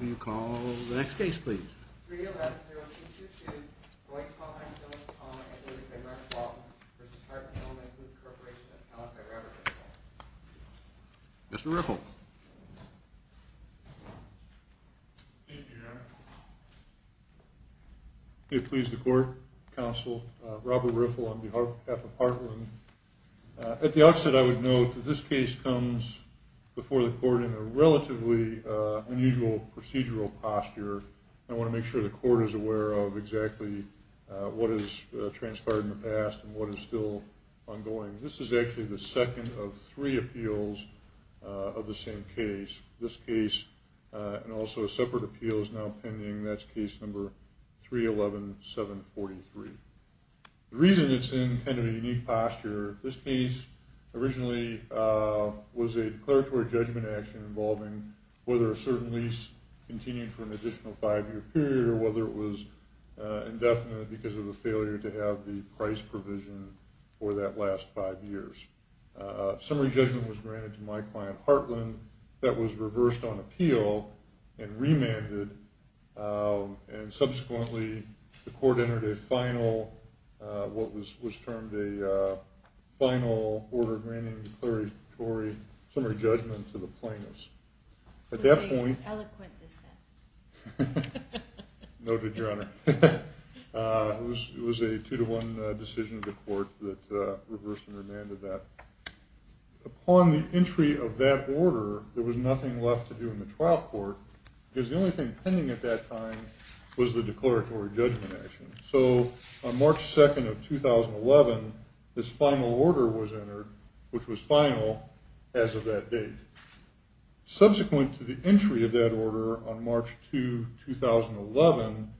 Will you call the next case, please? 311-0222, Dwight Pond, Bill Pond, and Elizabeth Mark-Walton v. Heartland Illinois Food Corporation, accounted by Robert Riffle. Mr. Riffle. Thank you, Your Honor. May it please the Court, Counsel, Robert Riffle on behalf of Heartland. At the outset, I would note that this case comes before the Court in a relatively unusual procedural posture. I want to make sure the Court is aware of exactly what has transpired in the past and what is still ongoing. This is actually the second of three appeals of the same case. This case, and also a separate appeal, is now pending. That's case number 311-743. The reason it's in kind of a unique posture, this case originally was a declaratory judgment action involving whether a certain lease continued for an additional five-year period or whether it was indefinite because of the failure to have the price provision for that last five years. Summary judgment was granted to my client, Heartland, that was reversed on appeal and remanded. Subsequently, the Court entered a final, what was termed a final order granting declaratory summary judgment to the plaintiffs. At that point... You're being eloquent this time. Noted, Your Honor. It was a two-to-one decision of the Court that reversed and remanded that. Upon the entry of that order, there was nothing left to do in the trial court because the only thing pending at that time was the declaratory judgment action. So on March 2nd of 2011, this final order was entered, which was final as of that date. Subsequent to the entry of that order on March 2, 2011,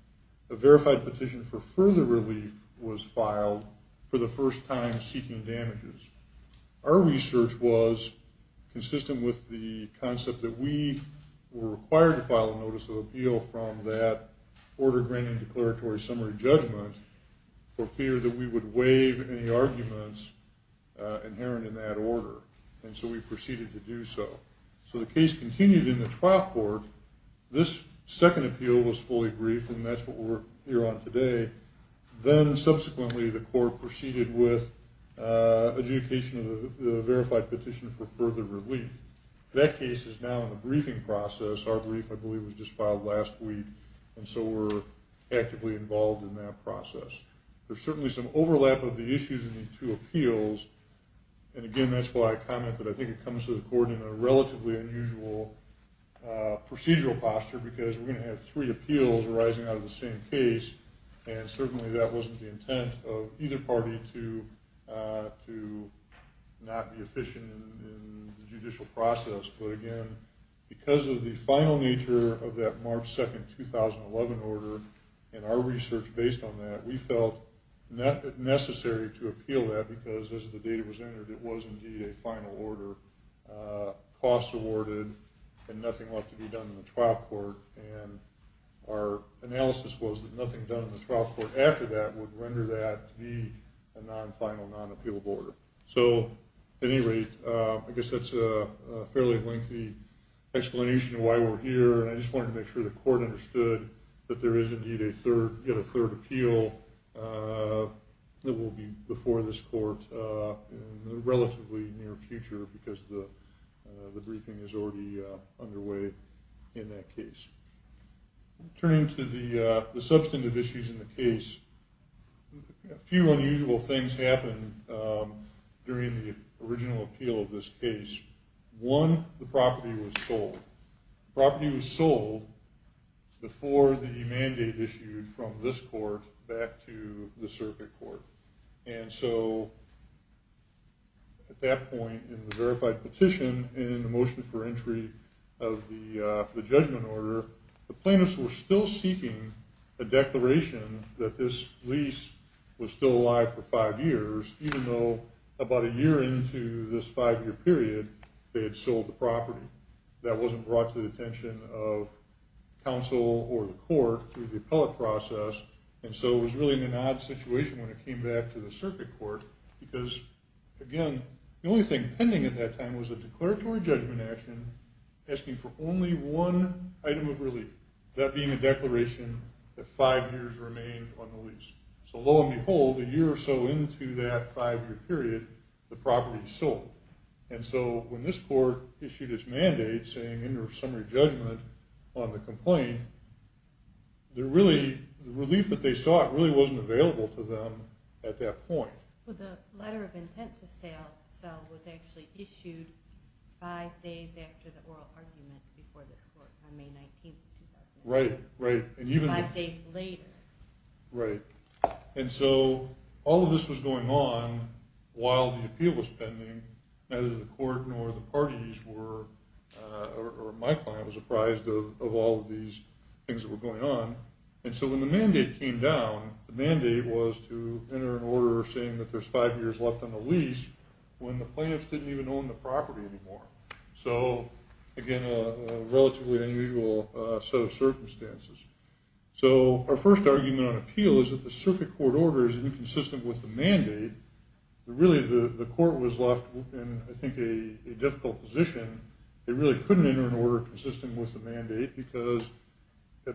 a verified petition for further relief was filed for the first time seeking damages. Our research was consistent with the concept that we were required to file a notice of appeal from that order granting declaratory summary judgment for fear that we would waive any arguments inherent in that order, and so we proceeded to do so. So the case continued in the trial court. This second appeal was fully briefed, and that's what we're here on today. Then subsequently, the Court proceeded with adjudication of the verified petition for further relief. That case is now in the briefing process. Our brief, I believe, was just filed last week, and so we're actively involved in that process. There's certainly some overlap of the issues in these two appeals, and again that's why I commented I think it comes to the Court in a relatively unusual procedural posture because we're going to have three appeals arising out of the same case, and certainly that wasn't the intent of either party to not be efficient in the judicial process. But again, because of the final nature of that March 2, 2011 order and our research based on that, we felt necessary to appeal that because as the data was entered, it was indeed a final order, costs awarded, and nothing left to be done in the trial court, and our analysis was that nothing done in the trial court after that would render that to be a non-final, non-appealable order. So at any rate, I guess that's a fairly lengthy explanation of why we're here, and I just wanted to make sure the Court understood that there is indeed a third appeal that will be before this Court in the relatively near future because the briefing is already underway in that case. Turning to the substantive issues in the case, a few unusual things happened during the original appeal of this case. One, the property was sold. The property was sold before the mandate issued from this Court back to the circuit court, and so at that point in the verified petition and the motion for entry of the judgment order, the plaintiffs were still seeking a declaration that this lease was still alive for five years, even though about a year into this five-year period, they had sold the property. That wasn't brought to the attention of counsel or the Court through the appellate process, and so it was really an odd situation when it came back to the circuit court because, again, the only thing pending at that time was a declaratory judgment action asking for only one item of relief, that being a declaration that five years remained on the lease. So lo and behold, a year or so into that five-year period, the property was sold. And so when this Court issued its mandate saying end of summary judgment on the complaint, the relief that they sought really wasn't available to them at that point. Well, the letter of intent to sell was actually issued five days after the oral argument before this Court on May 19, 2001. Right, right. Five days later. Right. And so all of this was going on while the appeal was pending. Neither the Court nor the parties were, or my client was apprised of all of these things that were going on. And so when the mandate came down, the mandate was to enter an order saying that there's five years left on the lease when the plaintiffs didn't even own the property anymore. So, again, a relatively unusual set of circumstances. So our first argument on appeal is that the Circuit Court order is inconsistent with the mandate. Really, the Court was left in, I think, a difficult position. It really couldn't enter an order consistent with the mandate because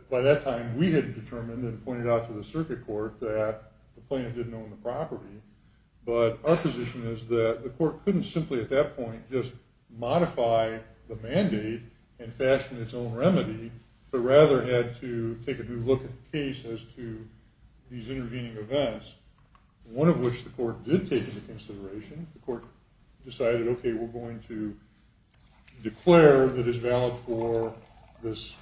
by that time, we had determined and pointed out to the Circuit Court that the plaintiff didn't own the property. But our position is that the Court couldn't simply at that point just modify the mandate and fashion its own remedy, but rather had to take a new look at the case as to these intervening events, one of which the Court did take into consideration. The Court decided, okay, we're going to declare that it's valid for this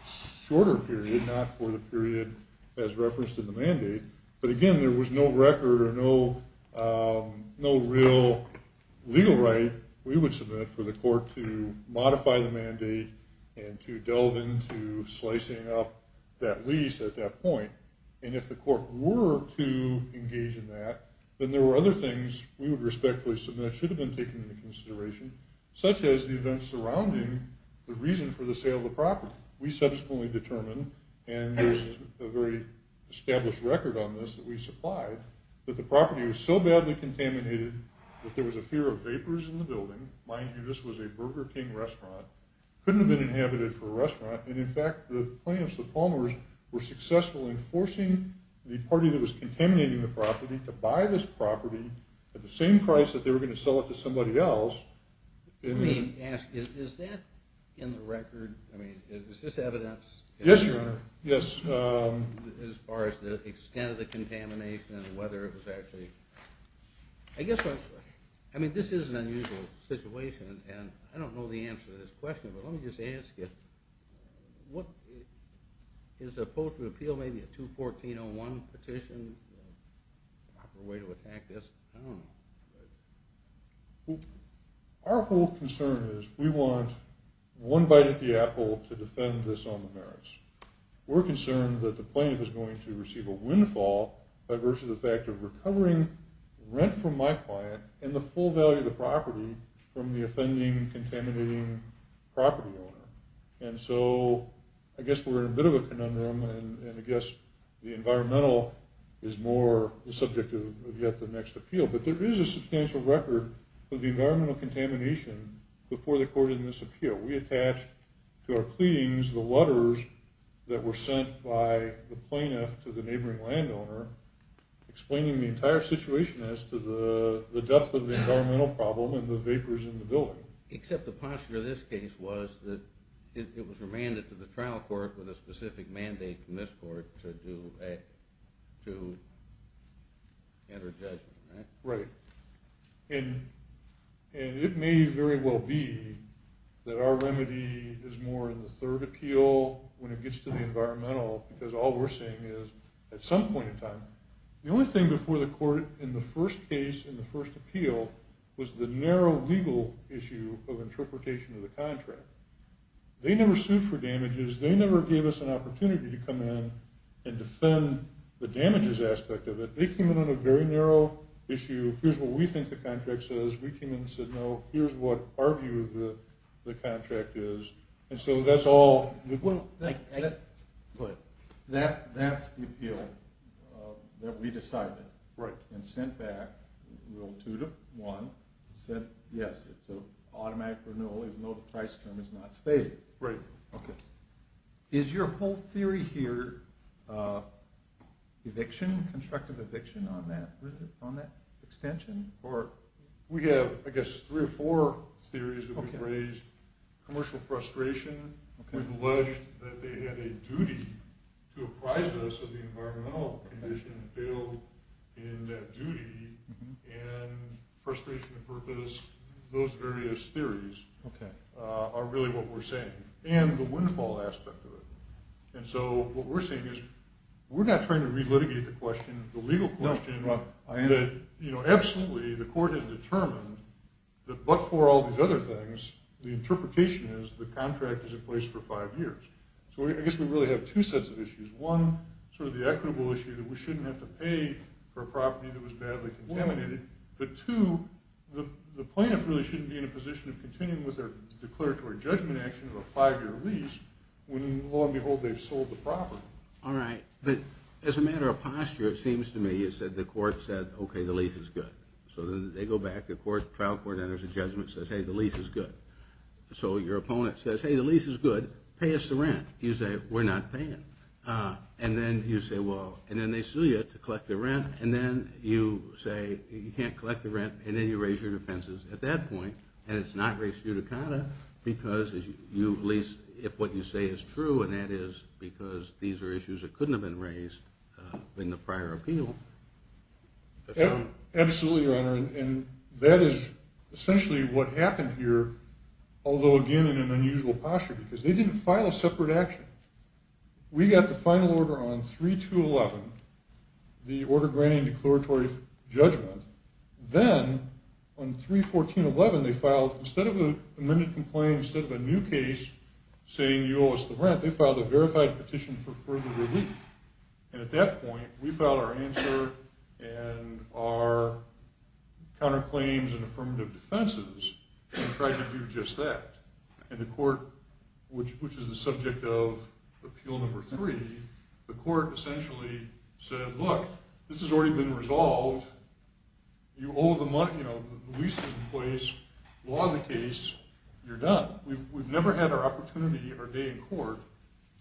shorter period, not for the period as referenced in the mandate. But, again, there was no record or no real legal right we would submit for the Court to modify the mandate and to delve into slicing up that lease at that point. And if the Court were to engage in that, then there were other things we would respectfully submit that should have been taken into consideration, such as the events surrounding the reason for the sale of the property. We subsequently determined, and there's a very established record on this that we supplied, that the property was so badly contaminated that there was a fear of vapors in the building. Mind you, this was a Burger King restaurant. It couldn't have been inhabited for a restaurant. And, in fact, the plaintiffs, the Palmers, were successful in forcing the party that was contaminating the property to buy this property at the same price that they were going to sell it to somebody else. Let me ask, is that in the record? I mean, is this evidence? Yes, Your Honor, yes. As far as the extent of the contamination and whether it was actually... I mean, this is an unusual situation, and I don't know the answer to this question, but let me just ask you, is a post-repeal maybe a 214.01 petition a proper way to attack this? I don't know. Our whole concern is we want one bite at the apple to defend this on the merits. We're concerned that the plaintiff is going to receive a windfall versus the fact of recovering rent from my client and the full value of the property from the offending, contaminating property owner. And so I guess we're in a bit of a conundrum, and I guess the environmental is more the subject of yet the next appeal. But there is a substantial record of the environmental contamination before the court in this appeal. We attached to our pleadings the letters that were sent by the plaintiff to the neighboring landowner explaining the entire situation as to the depth of the environmental problem and the vapors in the building. Except the posture of this case was that it was remanded to the trial court with a specific mandate from this court to enter judgment, right? Right. And it may very well be that our remedy is more in the third appeal when it gets to the environmental because all we're saying is at some point in time, the only thing before the court in the first case in the first appeal was the narrow legal issue of interpretation of the contract. They never sued for damages. They never gave us an opportunity to come in and defend the damages aspect of it. They came in on a very narrow issue. Here's what we think the contract says. We came in and said, no, here's what our view of the contract is. And so that's all. That's the appeal that we decided and sent back. Rule 2-1 said, yes, it's an automatic renewal even though the price term is not stated. Right. Is your whole theory here eviction, constructive eviction on that extension? We have, I guess, three or four theories that we've raised. Commercial frustration. We've alleged that they had a duty to apprise us of the environmental condition and failed in that duty. And frustration of purpose, those various theories are really what we're saying. And the windfall aspect of it. And so what we're saying is we're not trying to relitigate the question, the legal question. No, I am. Absolutely, the court has determined that but for all these other things, the interpretation is the contract is in place for five years. So I guess we really have two sets of issues. One, sort of the equitable issue that we shouldn't have to pay for a property that was badly contaminated. But two, the plaintiff really shouldn't be in a position of continuing with their declaratory judgment action of a five-year lease when, lo and behold, they've sold the property. All right. But as a matter of posture, it seems to me that the court said, okay, the lease is good. So they go back. The trial court enters a judgment and says, hey, the lease is good. So your opponent says, hey, the lease is good, pay us the rent. You say, we're not paying. And then you say, well, and then they sue you to collect the rent, and then you say you can't collect the rent, and then you raise your defenses at that point, and it's not raised pseudoconda because you lease if what you say is true, and that is because these are issues that couldn't have been raised in the prior appeal. Absolutely, Your Honor. And that is essentially what happened here, although, again, in an unusual posture because they didn't file a separate action. We got the final order on 3-2-11, the order granting declaratory judgment. Then on 3-14-11 they filed, instead of an amended complaint, instead of a new case saying you owe us the rent, they filed a verified petition for further relief. And at that point we filed our answer and our counterclaims and affirmative defenses and tried to do just that. And the court, which is the subject of Appeal Number 3, the court essentially said, look, this has already been resolved. You owe the money. The lease is in place. Law the case. You're done. We've never had our opportunity, our day in court,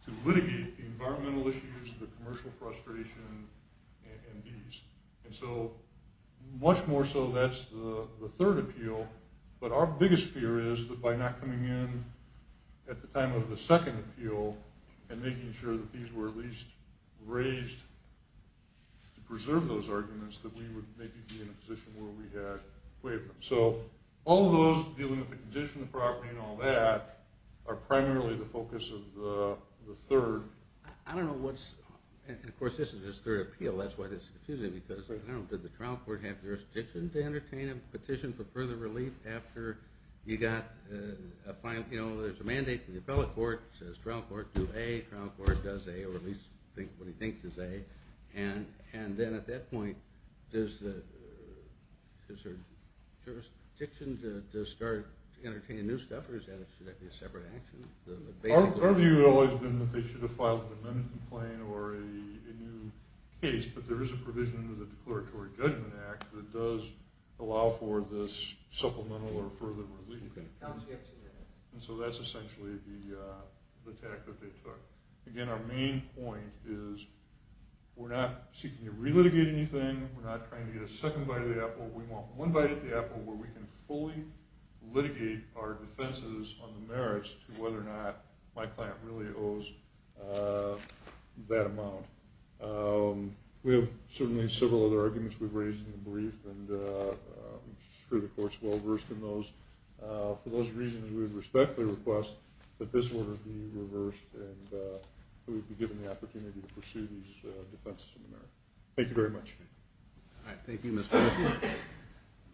to litigate the environmental issues, the commercial frustration, and these. And so much more so that's the third appeal. But our biggest fear is that by not coming in at the time of the second appeal and making sure that these were at least raised to preserve those arguments that we would maybe be in a position where we had waiver. So all of those dealing with the condition of the property and all that are primarily the focus of the third. I don't know what's – and, of course, this is his third appeal. That's why this is confusing because, I don't know, did the trial court have jurisdiction to entertain a petition for further relief after you got a final – you know, there's a mandate from the trial court to do A, trial court does A, or at least what he thinks is A, and then at that point does the – is there jurisdiction to start entertaining new stuff or is that a separate action? Our view has always been that they should have filed an amendment complaint or a new case, but there is a provision in the Declaratory Judgment Act that does allow for this supplemental or further relief. And so that's essentially the tact that they took. Again, our main point is we're not seeking to relitigate anything. We're not trying to get a second bite of the apple. We want one bite of the apple where we can fully litigate our defenses on the merits to whether or not my client really owes that amount. And I'm sure the court's well-versed in those. For those reasons, we would respectfully request that this order be reversed and that we be given the opportunity to pursue these defenses on the merits. Thank you very much. All right, thank you, Mr. Wilson.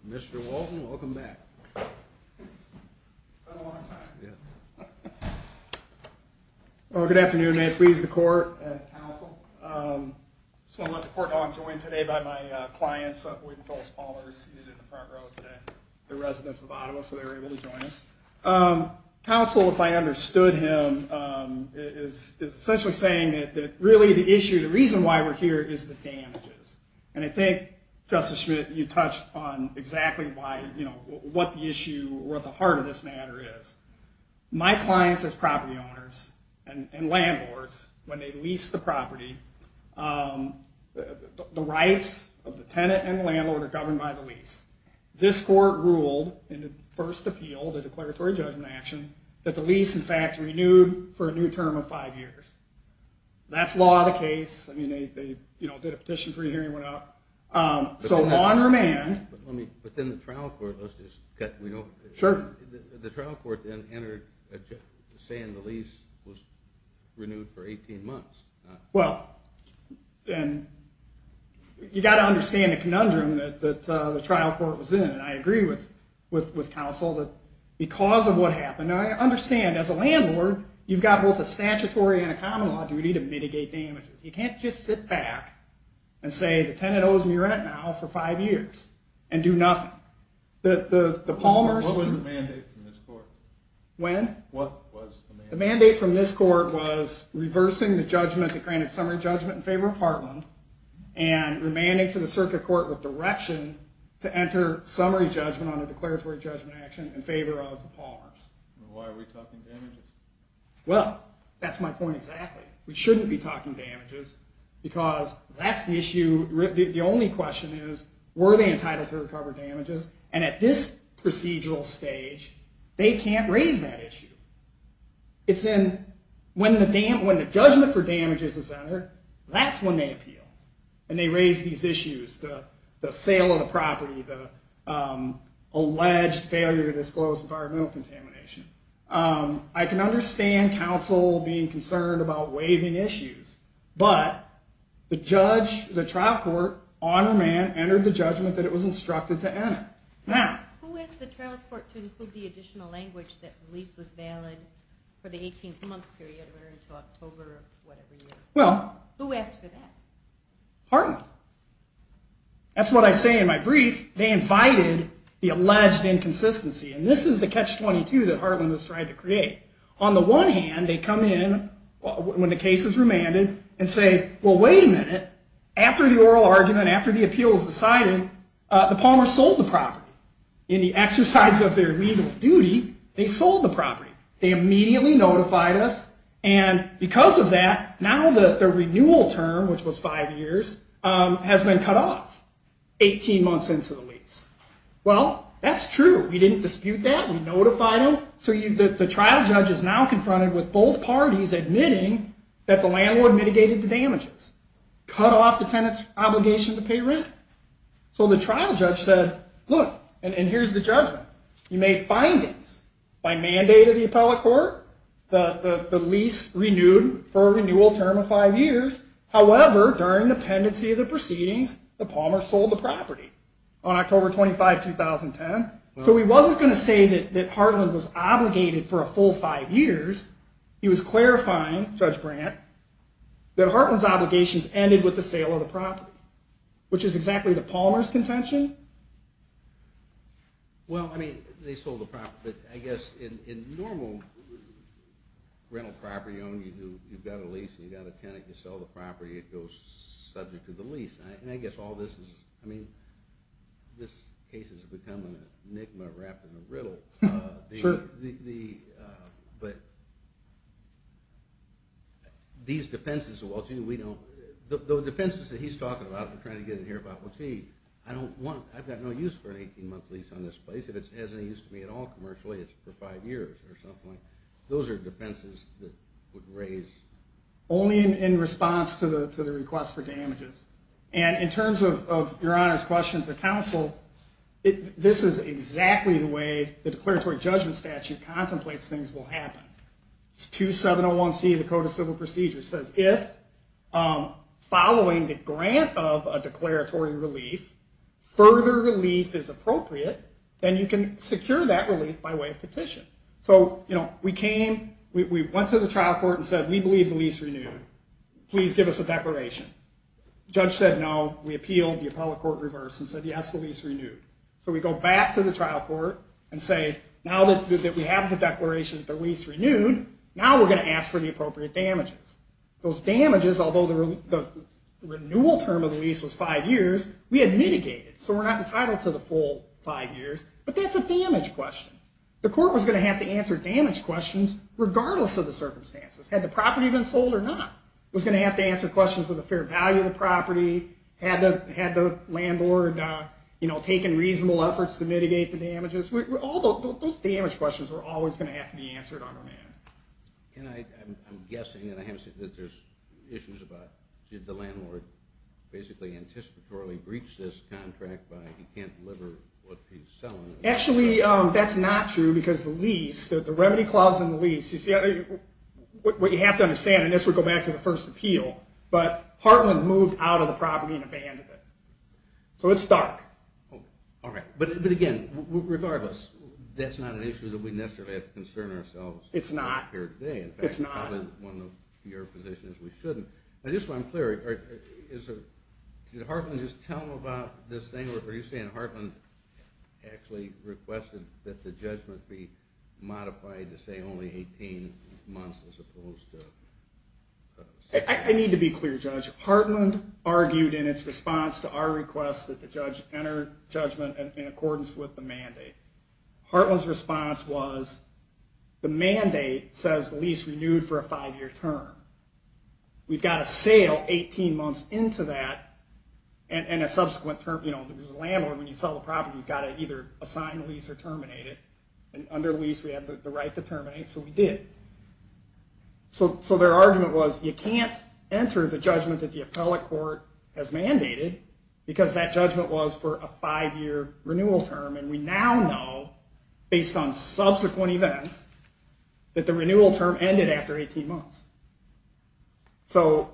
Mr. Walton, welcome back. It's been a long time. Good afternoon. May it please the court and counsel. I just want to let the court know I'm joined today by my clients, William and Phyllis Paulers, seated in the front row today. They're residents of Ottawa, so they were able to join us. Counsel, if I understood him, is essentially saying that really the issue, the reason why we're here is the damages. And I think, Justice Schmidt, you touched on exactly what the issue or what the heart of this matter is. My clients as property owners and landlords, when they lease the property, the rights of the tenant and the landlord are governed by the lease. This court ruled in the first appeal, the declaratory judgment action, that the lease, in fact, renewed for a new term of five years. That's law of the case. I mean, they did a petition for a hearing and went out. So on remand... But then the trial court, let's just get... Sure. The trial court then entered saying the lease was renewed for 18 months. Well, and you've got to understand the conundrum that the trial court was in. And I agree with counsel that because of what happened, I understand as a landlord you've got both a statutory and a common law duty to mitigate damages. You can't just sit back and say the tenant owes me rent now for five years and do nothing. What was the mandate from this court? When? What was the mandate? The mandate from this court was reversing the judgment that granted summary judgment in favor of Heartland and remanding to the circuit court with direction to enter summary judgment on a declaratory judgment action in favor of the Palmers. Why are we talking damages? Well, that's my point exactly. We shouldn't be talking damages because that's the issue. The only question is, were they entitled to recover damages? And at this procedural stage, they can't raise that issue. It's in when the judgment for damages is entered, that's when they appeal. And they raise these issues, the sale of the property, the alleged failure to disclose environmental contamination. I can understand counsel being concerned about waiving issues, but the trial court on remand entered the judgment that it was instructed to enter. Who asked the trial court to include the additional language that the lease was valid for the 18-month period or until October of whatever year? Who asked for that? Heartland. That's what I say in my brief. They invited the alleged inconsistency, and this is the catch-22 that Heartland has tried to create. On the one hand, they come in when the case is remanded and say, well, wait a minute. After the oral argument, after the appeal is decided, the Palmer sold the property. In the exercise of their legal duty, they sold the property. They immediately notified us, and because of that, now the renewal term, which was five years, has been cut off 18 months into the lease. Well, that's true. We didn't dispute that. We notified them. So the trial judge is now confronted with both parties admitting that the landlord mitigated the damages, cut off the tenant's obligation to pay rent. So the trial judge said, look, and here's the judgment. You made findings by mandate of the appellate court. The lease renewed for a renewal term of five years. However, during the pendency of the proceedings, the Palmer sold the property on October 25, 2010. So he wasn't going to say that Hartland was obligated for a full five years. He was clarifying, Judge Brandt, that Hartland's obligations ended with the sale of the property, which is exactly the Palmer's contention. Well, I mean, they sold the property. I guess in normal rental property, you've got a lease and you've got a tenant. You sell the property. It goes subject to the lease. And I guess all this is, I mean, this case has become an enigma wrapped in a riddle. Sure. But these defenses, well, gee, we don't, the defenses that he's talking about and trying to get in here about, well, gee, I don't want, I've got no use for an 18-month lease on this place. If it has any use to me at all commercially, it's for five years or something like that. Those are defenses that would raise. Only in response to the request for damages. And in terms of Your Honor's question to counsel, this is exactly the way the declaratory judgment statute contemplates things will happen. It's 2701C of the Code of Civil Procedures. It says, if following the grant of a declaratory relief, further relief is appropriate, then you can secure that relief by way of petition. So, you know, we came, we went to the trial court and said, we believe the lease renewed. Please give us a declaration. Judge said, no. We appealed. The appellate court reversed and said, yes, the lease renewed. So we go back to the trial court and say, now that we have the declaration that the lease renewed, now we're going to ask for the appropriate damages. Those damages, although the renewal term of the lease was five years, we had mitigated. So we're not entitled to the full five years. But that's a damage question. The court was going to have to answer damage questions, regardless of the circumstances. Had the property been sold or not? It was going to have to answer questions of the fair value of the property. Had the landlord, you know, taken reasonable efforts to mitigate the damages? Those damage questions are always going to have to be answered on demand. And I'm guessing, and I haven't seen that there's issues about, did the landlord basically anticipatorily breach this contract by he can't deliver what he's selling? Actually, that's not true. Because the lease, the remedy clause in the lease, what you have to understand, and this would go back to the first appeal, but Hartland moved out of the property and abandoned it. So it's dark. All right. But again, regardless, that's not an issue that we necessarily have to concern ourselves with here today. In fact, probably one of your positions we shouldn't. But just so I'm clear, did Hartland just tell them about this thing? Are you saying Hartland actually requested that the judgment be modified to say only 18 months as opposed to? I need to be clear, Judge. Hartland argued in its response to our request that the judge enter judgment in accordance with the mandate. Hartland's response was the mandate says the lease renewed for a five-year term. We've got to sail 18 months into that and a subsequent term, you know, there's a landlord. When you sell a property, you've got to either assign a lease or terminate it. And under lease, we have the right to terminate. So we did. So their argument was you can't enter the judgment that the appellate court has mandated because that judgment was for a five-year renewal term. And we now know, based on subsequent events, that the renewal term ended after 18 months. So,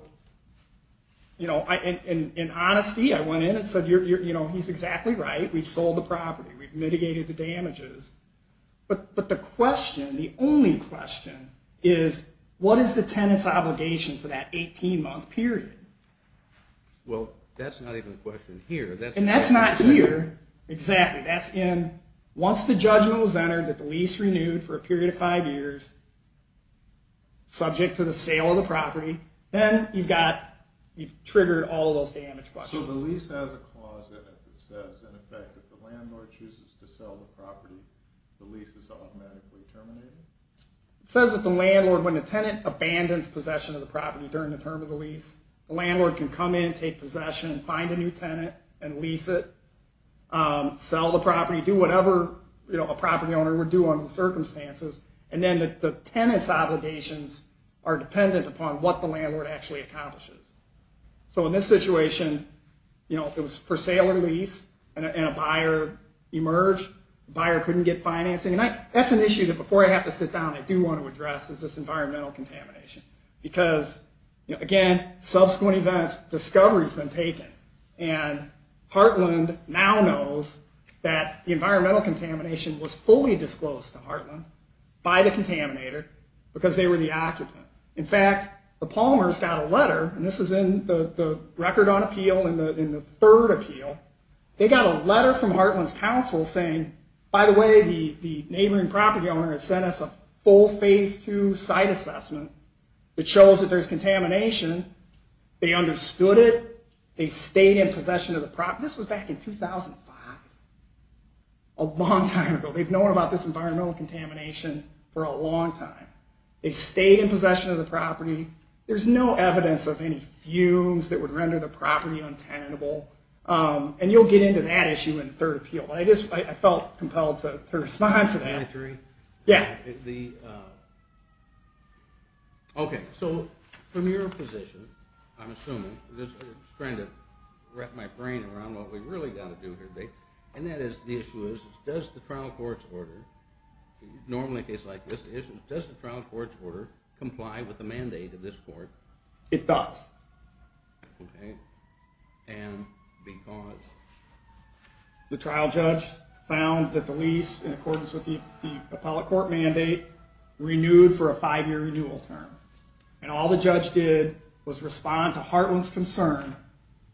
you know, in honesty, I went in and said, you know, he's exactly right. We've sold the property. We've mitigated the damages. But the question, the only question, is what is the tenant's obligation for that 18-month period? Well, that's not even a question here. And that's not here. That's in once the judgment was entered that the lease renewed for a period of five years, subject to the sale of the property, then you've triggered all of those damage questions. So the lease has a clause that says, in effect, if the landlord chooses to sell the property, the lease is automatically terminated? It says that the landlord, when the tenant abandons possession of the property during the term of the lease, the landlord can come in, take possession, find a new tenant and lease it, sell the property, do whatever a property owner would do under the circumstances. And then the tenant's obligations are dependent upon what the landlord actually accomplishes. So in this situation, you know, if it was for sale or lease and a buyer emerged, the buyer couldn't get financing. And that's an issue that before I have to sit down, I do want to address, is this environmental contamination. Because, you know, again, subsequent events, discovery's been taken. And Heartland now knows that the environmental contamination was fully disclosed to Heartland by the contaminator because they were the occupant. In fact, the Palmers got a letter, and this is in the record on appeal in the third appeal, they got a letter from Heartland's counsel saying, by the way, the neighboring property owner has sent us a full phase two site assessment that shows that there's contamination. They understood it. They stayed in possession of the property. This was back in 2005. A long time ago. They've known about this environmental contamination for a long time. They stayed in possession of the property. There's no evidence of any fumes that would render the property untenable. And you'll get into that issue in the third appeal. But I felt compelled to respond to that. Yeah. Okay. So from your position, I'm assuming, just trying to wrap my brain around what we really got to do here, and that is the issue is does the trial court's order, normally a case like this, does the trial court's order comply with the mandate of this court? It does. Okay. And because? The trial judge found that the lease, in accordance with the appellate court mandate, renewed for a five-year renewal term. And all the judge did was respond to Heartland's concern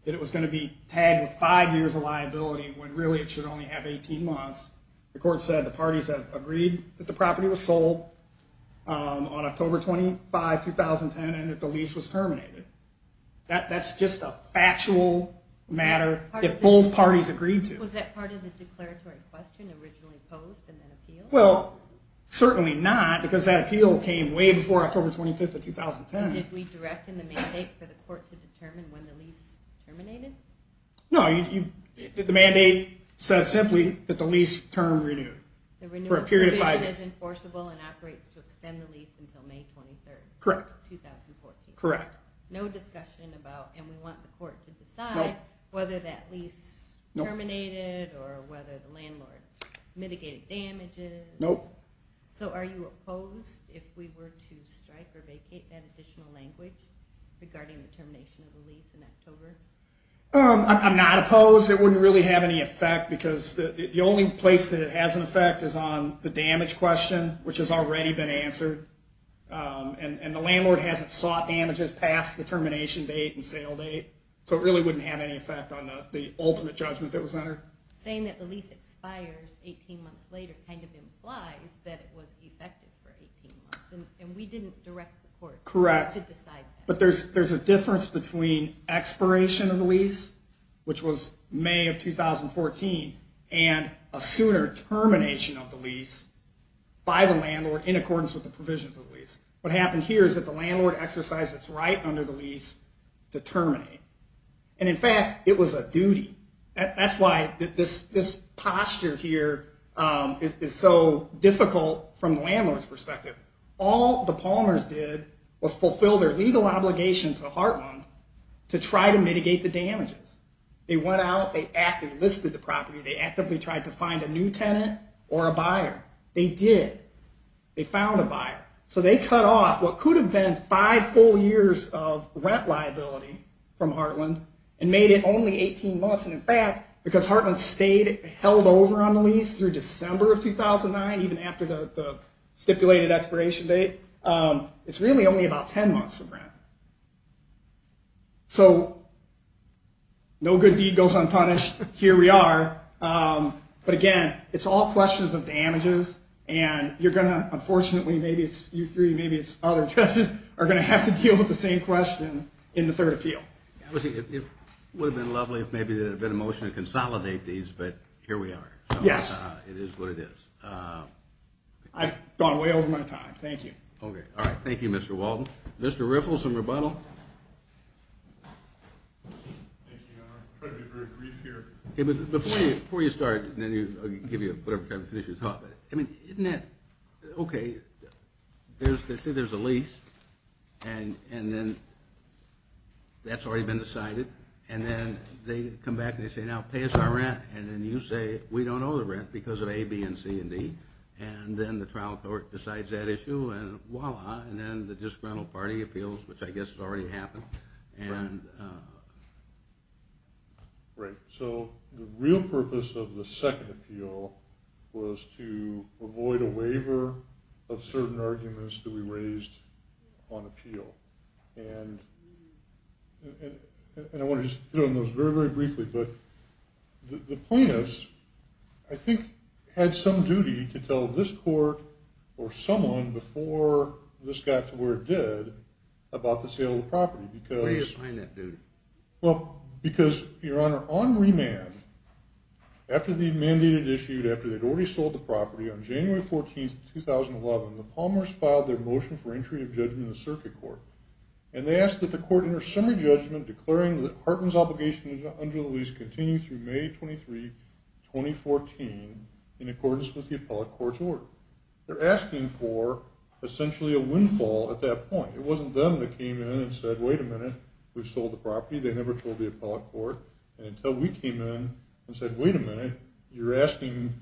that it was going to be tagged with five years of liability when, really, it should only have 18 months. The court said the parties had agreed that the property was sold on October 25, 2010, and that the lease was terminated. That's just a factual matter that both parties agreed to. Was that part of the declaratory question originally posed in that appeal? Well, certainly not, because that appeal came way before October 25, 2010. Did we direct in the mandate for the court to determine when the lease terminated? No. The mandate said simply that the lease term renewed for a period of five years. The renewal provision is enforceable and operates to extend the lease until May 23, 2014. Correct. No discussion about, and we want the court to decide, whether that lease terminated or whether the landlord mitigated damages. Nope. So are you opposed if we were to strike or vacate that additional language regarding the termination of the lease in October? I'm not opposed. It wouldn't really have any effect, because the only place that it has an effect is on the damage question, which has already been answered. And the landlord hasn't sought damages past the termination date and sale date, so it really wouldn't have any effect on the ultimate judgment that was entered. Saying that the lease expires 18 months later kind of implies that it was effective for 18 months, and we didn't direct the court to decide that. Correct. But there's a difference between expiration of the lease, which was May of 2014, and a sooner termination of the lease by the landlord in accordance with the provisions of the lease. What happened here is that the landlord exercised its right under the lease to terminate. And in fact, it was a duty. That's why this posture here is so difficult from the landlord's perspective. All the Palmers did was fulfill their legal obligation to Heartland to try to mitigate the damages. They went out, they actively listed the property, they actively tried to find a new tenant or a buyer. They did. They found a buyer. So they cut off what could have been five full years of rent liability from Heartland and made it only 18 months. And in fact, because Heartland stayed held over on the lease through December of 2009, even after the stipulated expiration date, it's really only about 10 months of rent. So no good deed goes unpunished. Here we are. But again, it's all questions of damages and you're going to, unfortunately, maybe it's you three, maybe it's other judges are going to have to deal with the same question in the third appeal. It would have been lovely if maybe there had been a motion to consolidate these, but here we are. Yes, it is what it is. I've gone way over my time. Thank you. Okay. All right. Thank you, Mr. Walton. Mr. Riffle, some rebuttal. Thank you, Your Honor. I'll try to be very brief here. Before you start, and then I'll give you whatever time to finish your talk, isn't that, okay, they say there's a lease, and then that's already been decided, and then they come back and they say, now pay us our rent, and then you say we don't owe the rent because of A, B, and C, and D. And then the trial court decides that issue, and voila, and then the disgruntled party appeals, which I guess has already happened. Right. So the real purpose of the second appeal was to avoid a waiver of certain arguments that we raised on appeal. And I want to just hit on those very, very briefly, but the plaintiffs, I think, had some duty to tell this court or someone before this got to where they did about the sale of the property. Where do you find that duty? Well, because, Your Honor, on remand, after the mandated issue, after they'd already sold the property, on January 14th, 2011, the Palmers filed their motion for entry of judgment in the circuit court, and they asked that the court enter summary judgment declaring that Hartman's obligation under the lease continue through May 23, 2014, in accordance with the appellate court's order. They're asking for essentially a windfall at that point. It wasn't them that came in and said, wait a minute, we've sold the property. They never told the appellate court. And until we came in and said, wait a minute, you're asking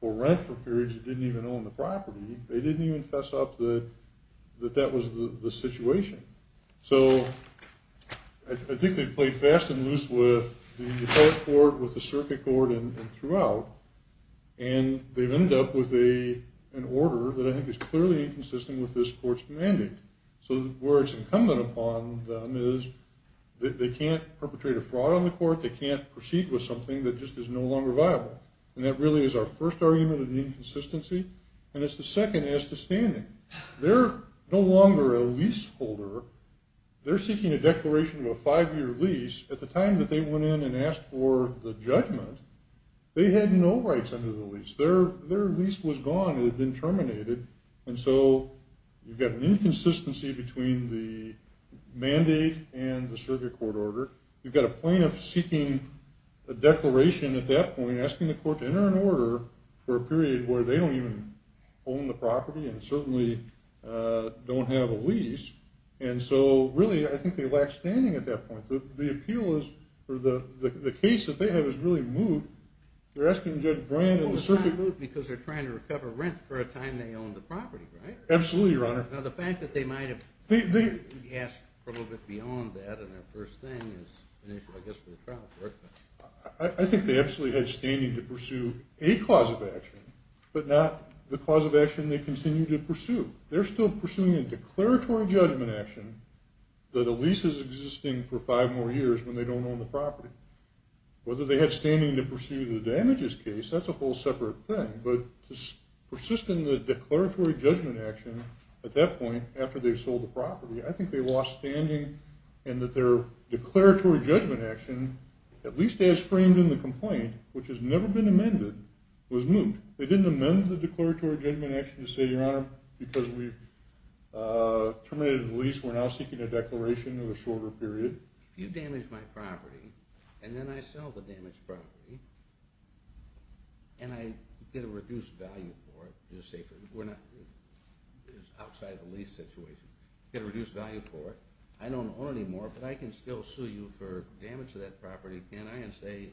for rent for periods that didn't even own the property. They didn't even fess up that that was the situation. So I think they played fast and loose with the appellate court, with the circuit court, and throughout. And they've ended up with an order that I think is clearly inconsistent with this court's mandate. So where it's incumbent upon them is that they can't perpetrate a fraud on the court. They can't proceed with something that just is no longer viable. And that really is our first argument of the inconsistency. And it's the second as to standing. They're no longer a leaseholder. They're seeking a declaration of a five-year lease. At the time that they went in and asked for the judgment, they had no rights under the lease. Their lease was gone. It had been terminated. And so you've got an inconsistency between the mandate and the circuit court order. You've got a plaintiff seeking a declaration at that point, asking the court to enter an order for a period where they don't even own the property and certainly don't have a lease. And so really I think they lack standing at that point. The appeal is for the case that they have is really moot. They're asking Judge Brand and the circuit court. Well, it's not moot because they're trying to recover rent for a time they owned the property, right? Absolutely, Your Honor. Now, the fact that they might have asked for a little bit beyond that in their first thing is an issue, I guess, for the trial court. I think they absolutely had standing to pursue a cause of action, but not the cause of action they continue to pursue. They're still pursuing a declaratory judgment action that a lease is for five more years when they don't own the property. Whether they had standing to pursue the damages case, that's a whole separate thing. But to persist in the declaratory judgment action at that point after they sold the property, I think they lost standing in that their declaratory judgment action, at least as framed in the complaint, which has never been amended, was moot. They didn't amend the declaratory judgment action to say, Your Honor, because we terminated the lease, we're now seeking a declaration of a shorter period. You damaged my property, and then I sell the damaged property, and I get a reduced value for it. We're not outside of the lease situation. You get a reduced value for it. I don't own it anymore, but I can still sue you for damage to that property, can't I?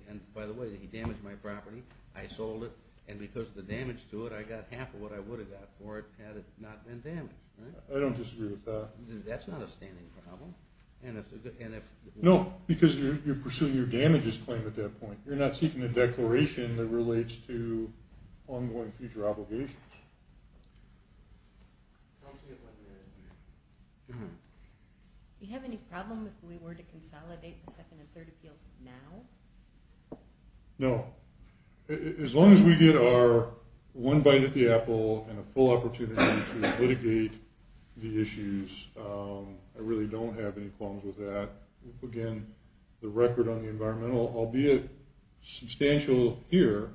And by the way, he damaged my property, I sold it, and because of the damage to it, I got half of what I would have got for it had it not been damaged. I don't disagree with that. That's not a standing problem? No, because you're pursuing your damages claim at that point. You're not seeking a declaration that relates to ongoing future obligations. Do you have any problem if we were to consolidate the second and third appeals now? No. As long as we get our one bite at the apple and a full opportunity to I really don't have any problems with that. Again, the record on the environmental, albeit substantial here,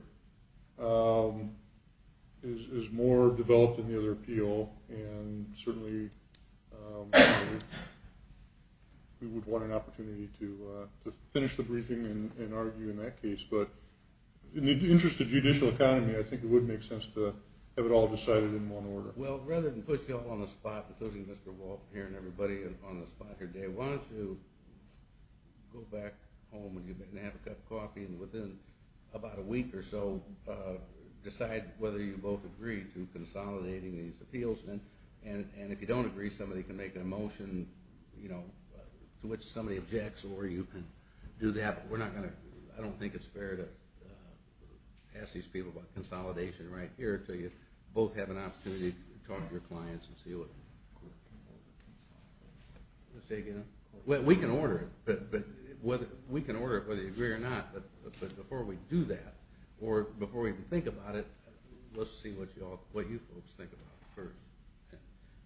is more developed than the other appeal, and certainly we would want an opportunity to finish the briefing and argue in that case. But in the interest of judicial economy, I think it would make sense to have it all decided in one order. Well, rather than put you all on the spot, including Mr. Walton here and everybody on the spot here today, why don't you go back home and have a cup of coffee and within about a week or so decide whether you both agree to consolidating these appeals. And if you don't agree, somebody can make a motion to which somebody objects or you can do that. I don't think it's fair to ask these people about consolidation right here until you both have an opportunity to talk to your clients and see what. Say again? We can order it whether you agree or not, but before we do that or before we even think about it, let's see what you folks think about it.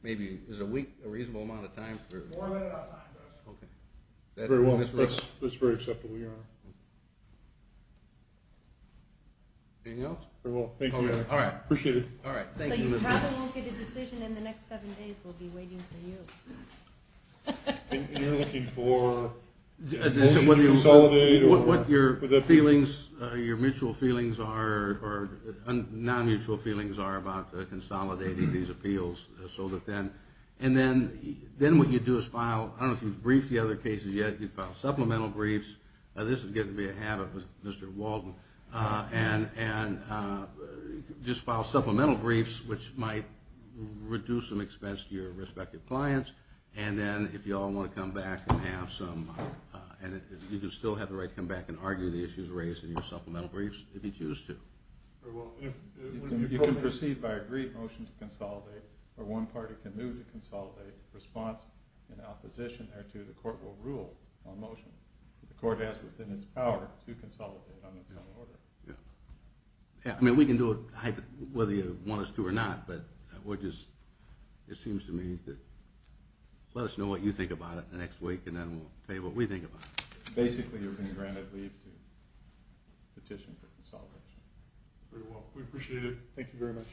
Maybe is a week a reasonable amount of time? More than enough time. Okay. Very well. That's very acceptable, Your Honor. Anything else? Very well. Thank you, Your Honor. Appreciate it. So you probably won't get a decision in the next seven days. We'll be waiting for you. You're looking for a motion to consolidate? What your mutual feelings are or non-mutual feelings are about consolidating these appeals so that then what you do is file, I don't know if you've briefed the other cases yet, you file supplemental briefs. This is getting to be a habit with Mr. Walden. And just file supplemental briefs, which might reduce some expense to your respective clients, and then if you all want to come back and have some, and you can still have the right to come back and argue the issues raised in your supplemental briefs if you choose to. You can proceed by agreed motion to consolidate or one party can move to consolidate. If there's a response in opposition thereto, the court will rule on motion. The court has within its power to consolidate on its own order. Yeah. I mean, we can do it whether you want us to or not, but it seems to me that let us know what you think about it the next week and then we'll say what we think about it. Basically, you're going to grant a leave to petition for consolidation. Very well. We appreciate it. Thank you very much.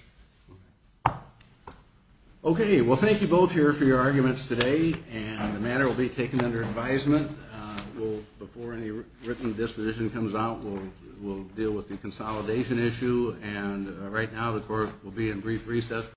Okay. Okay. Well, thank you both here for your arguments today, and the matter will be taken under advisement. Before any written disposition comes out, we'll deal with the consolidation issue, and right now the court will be in brief recess.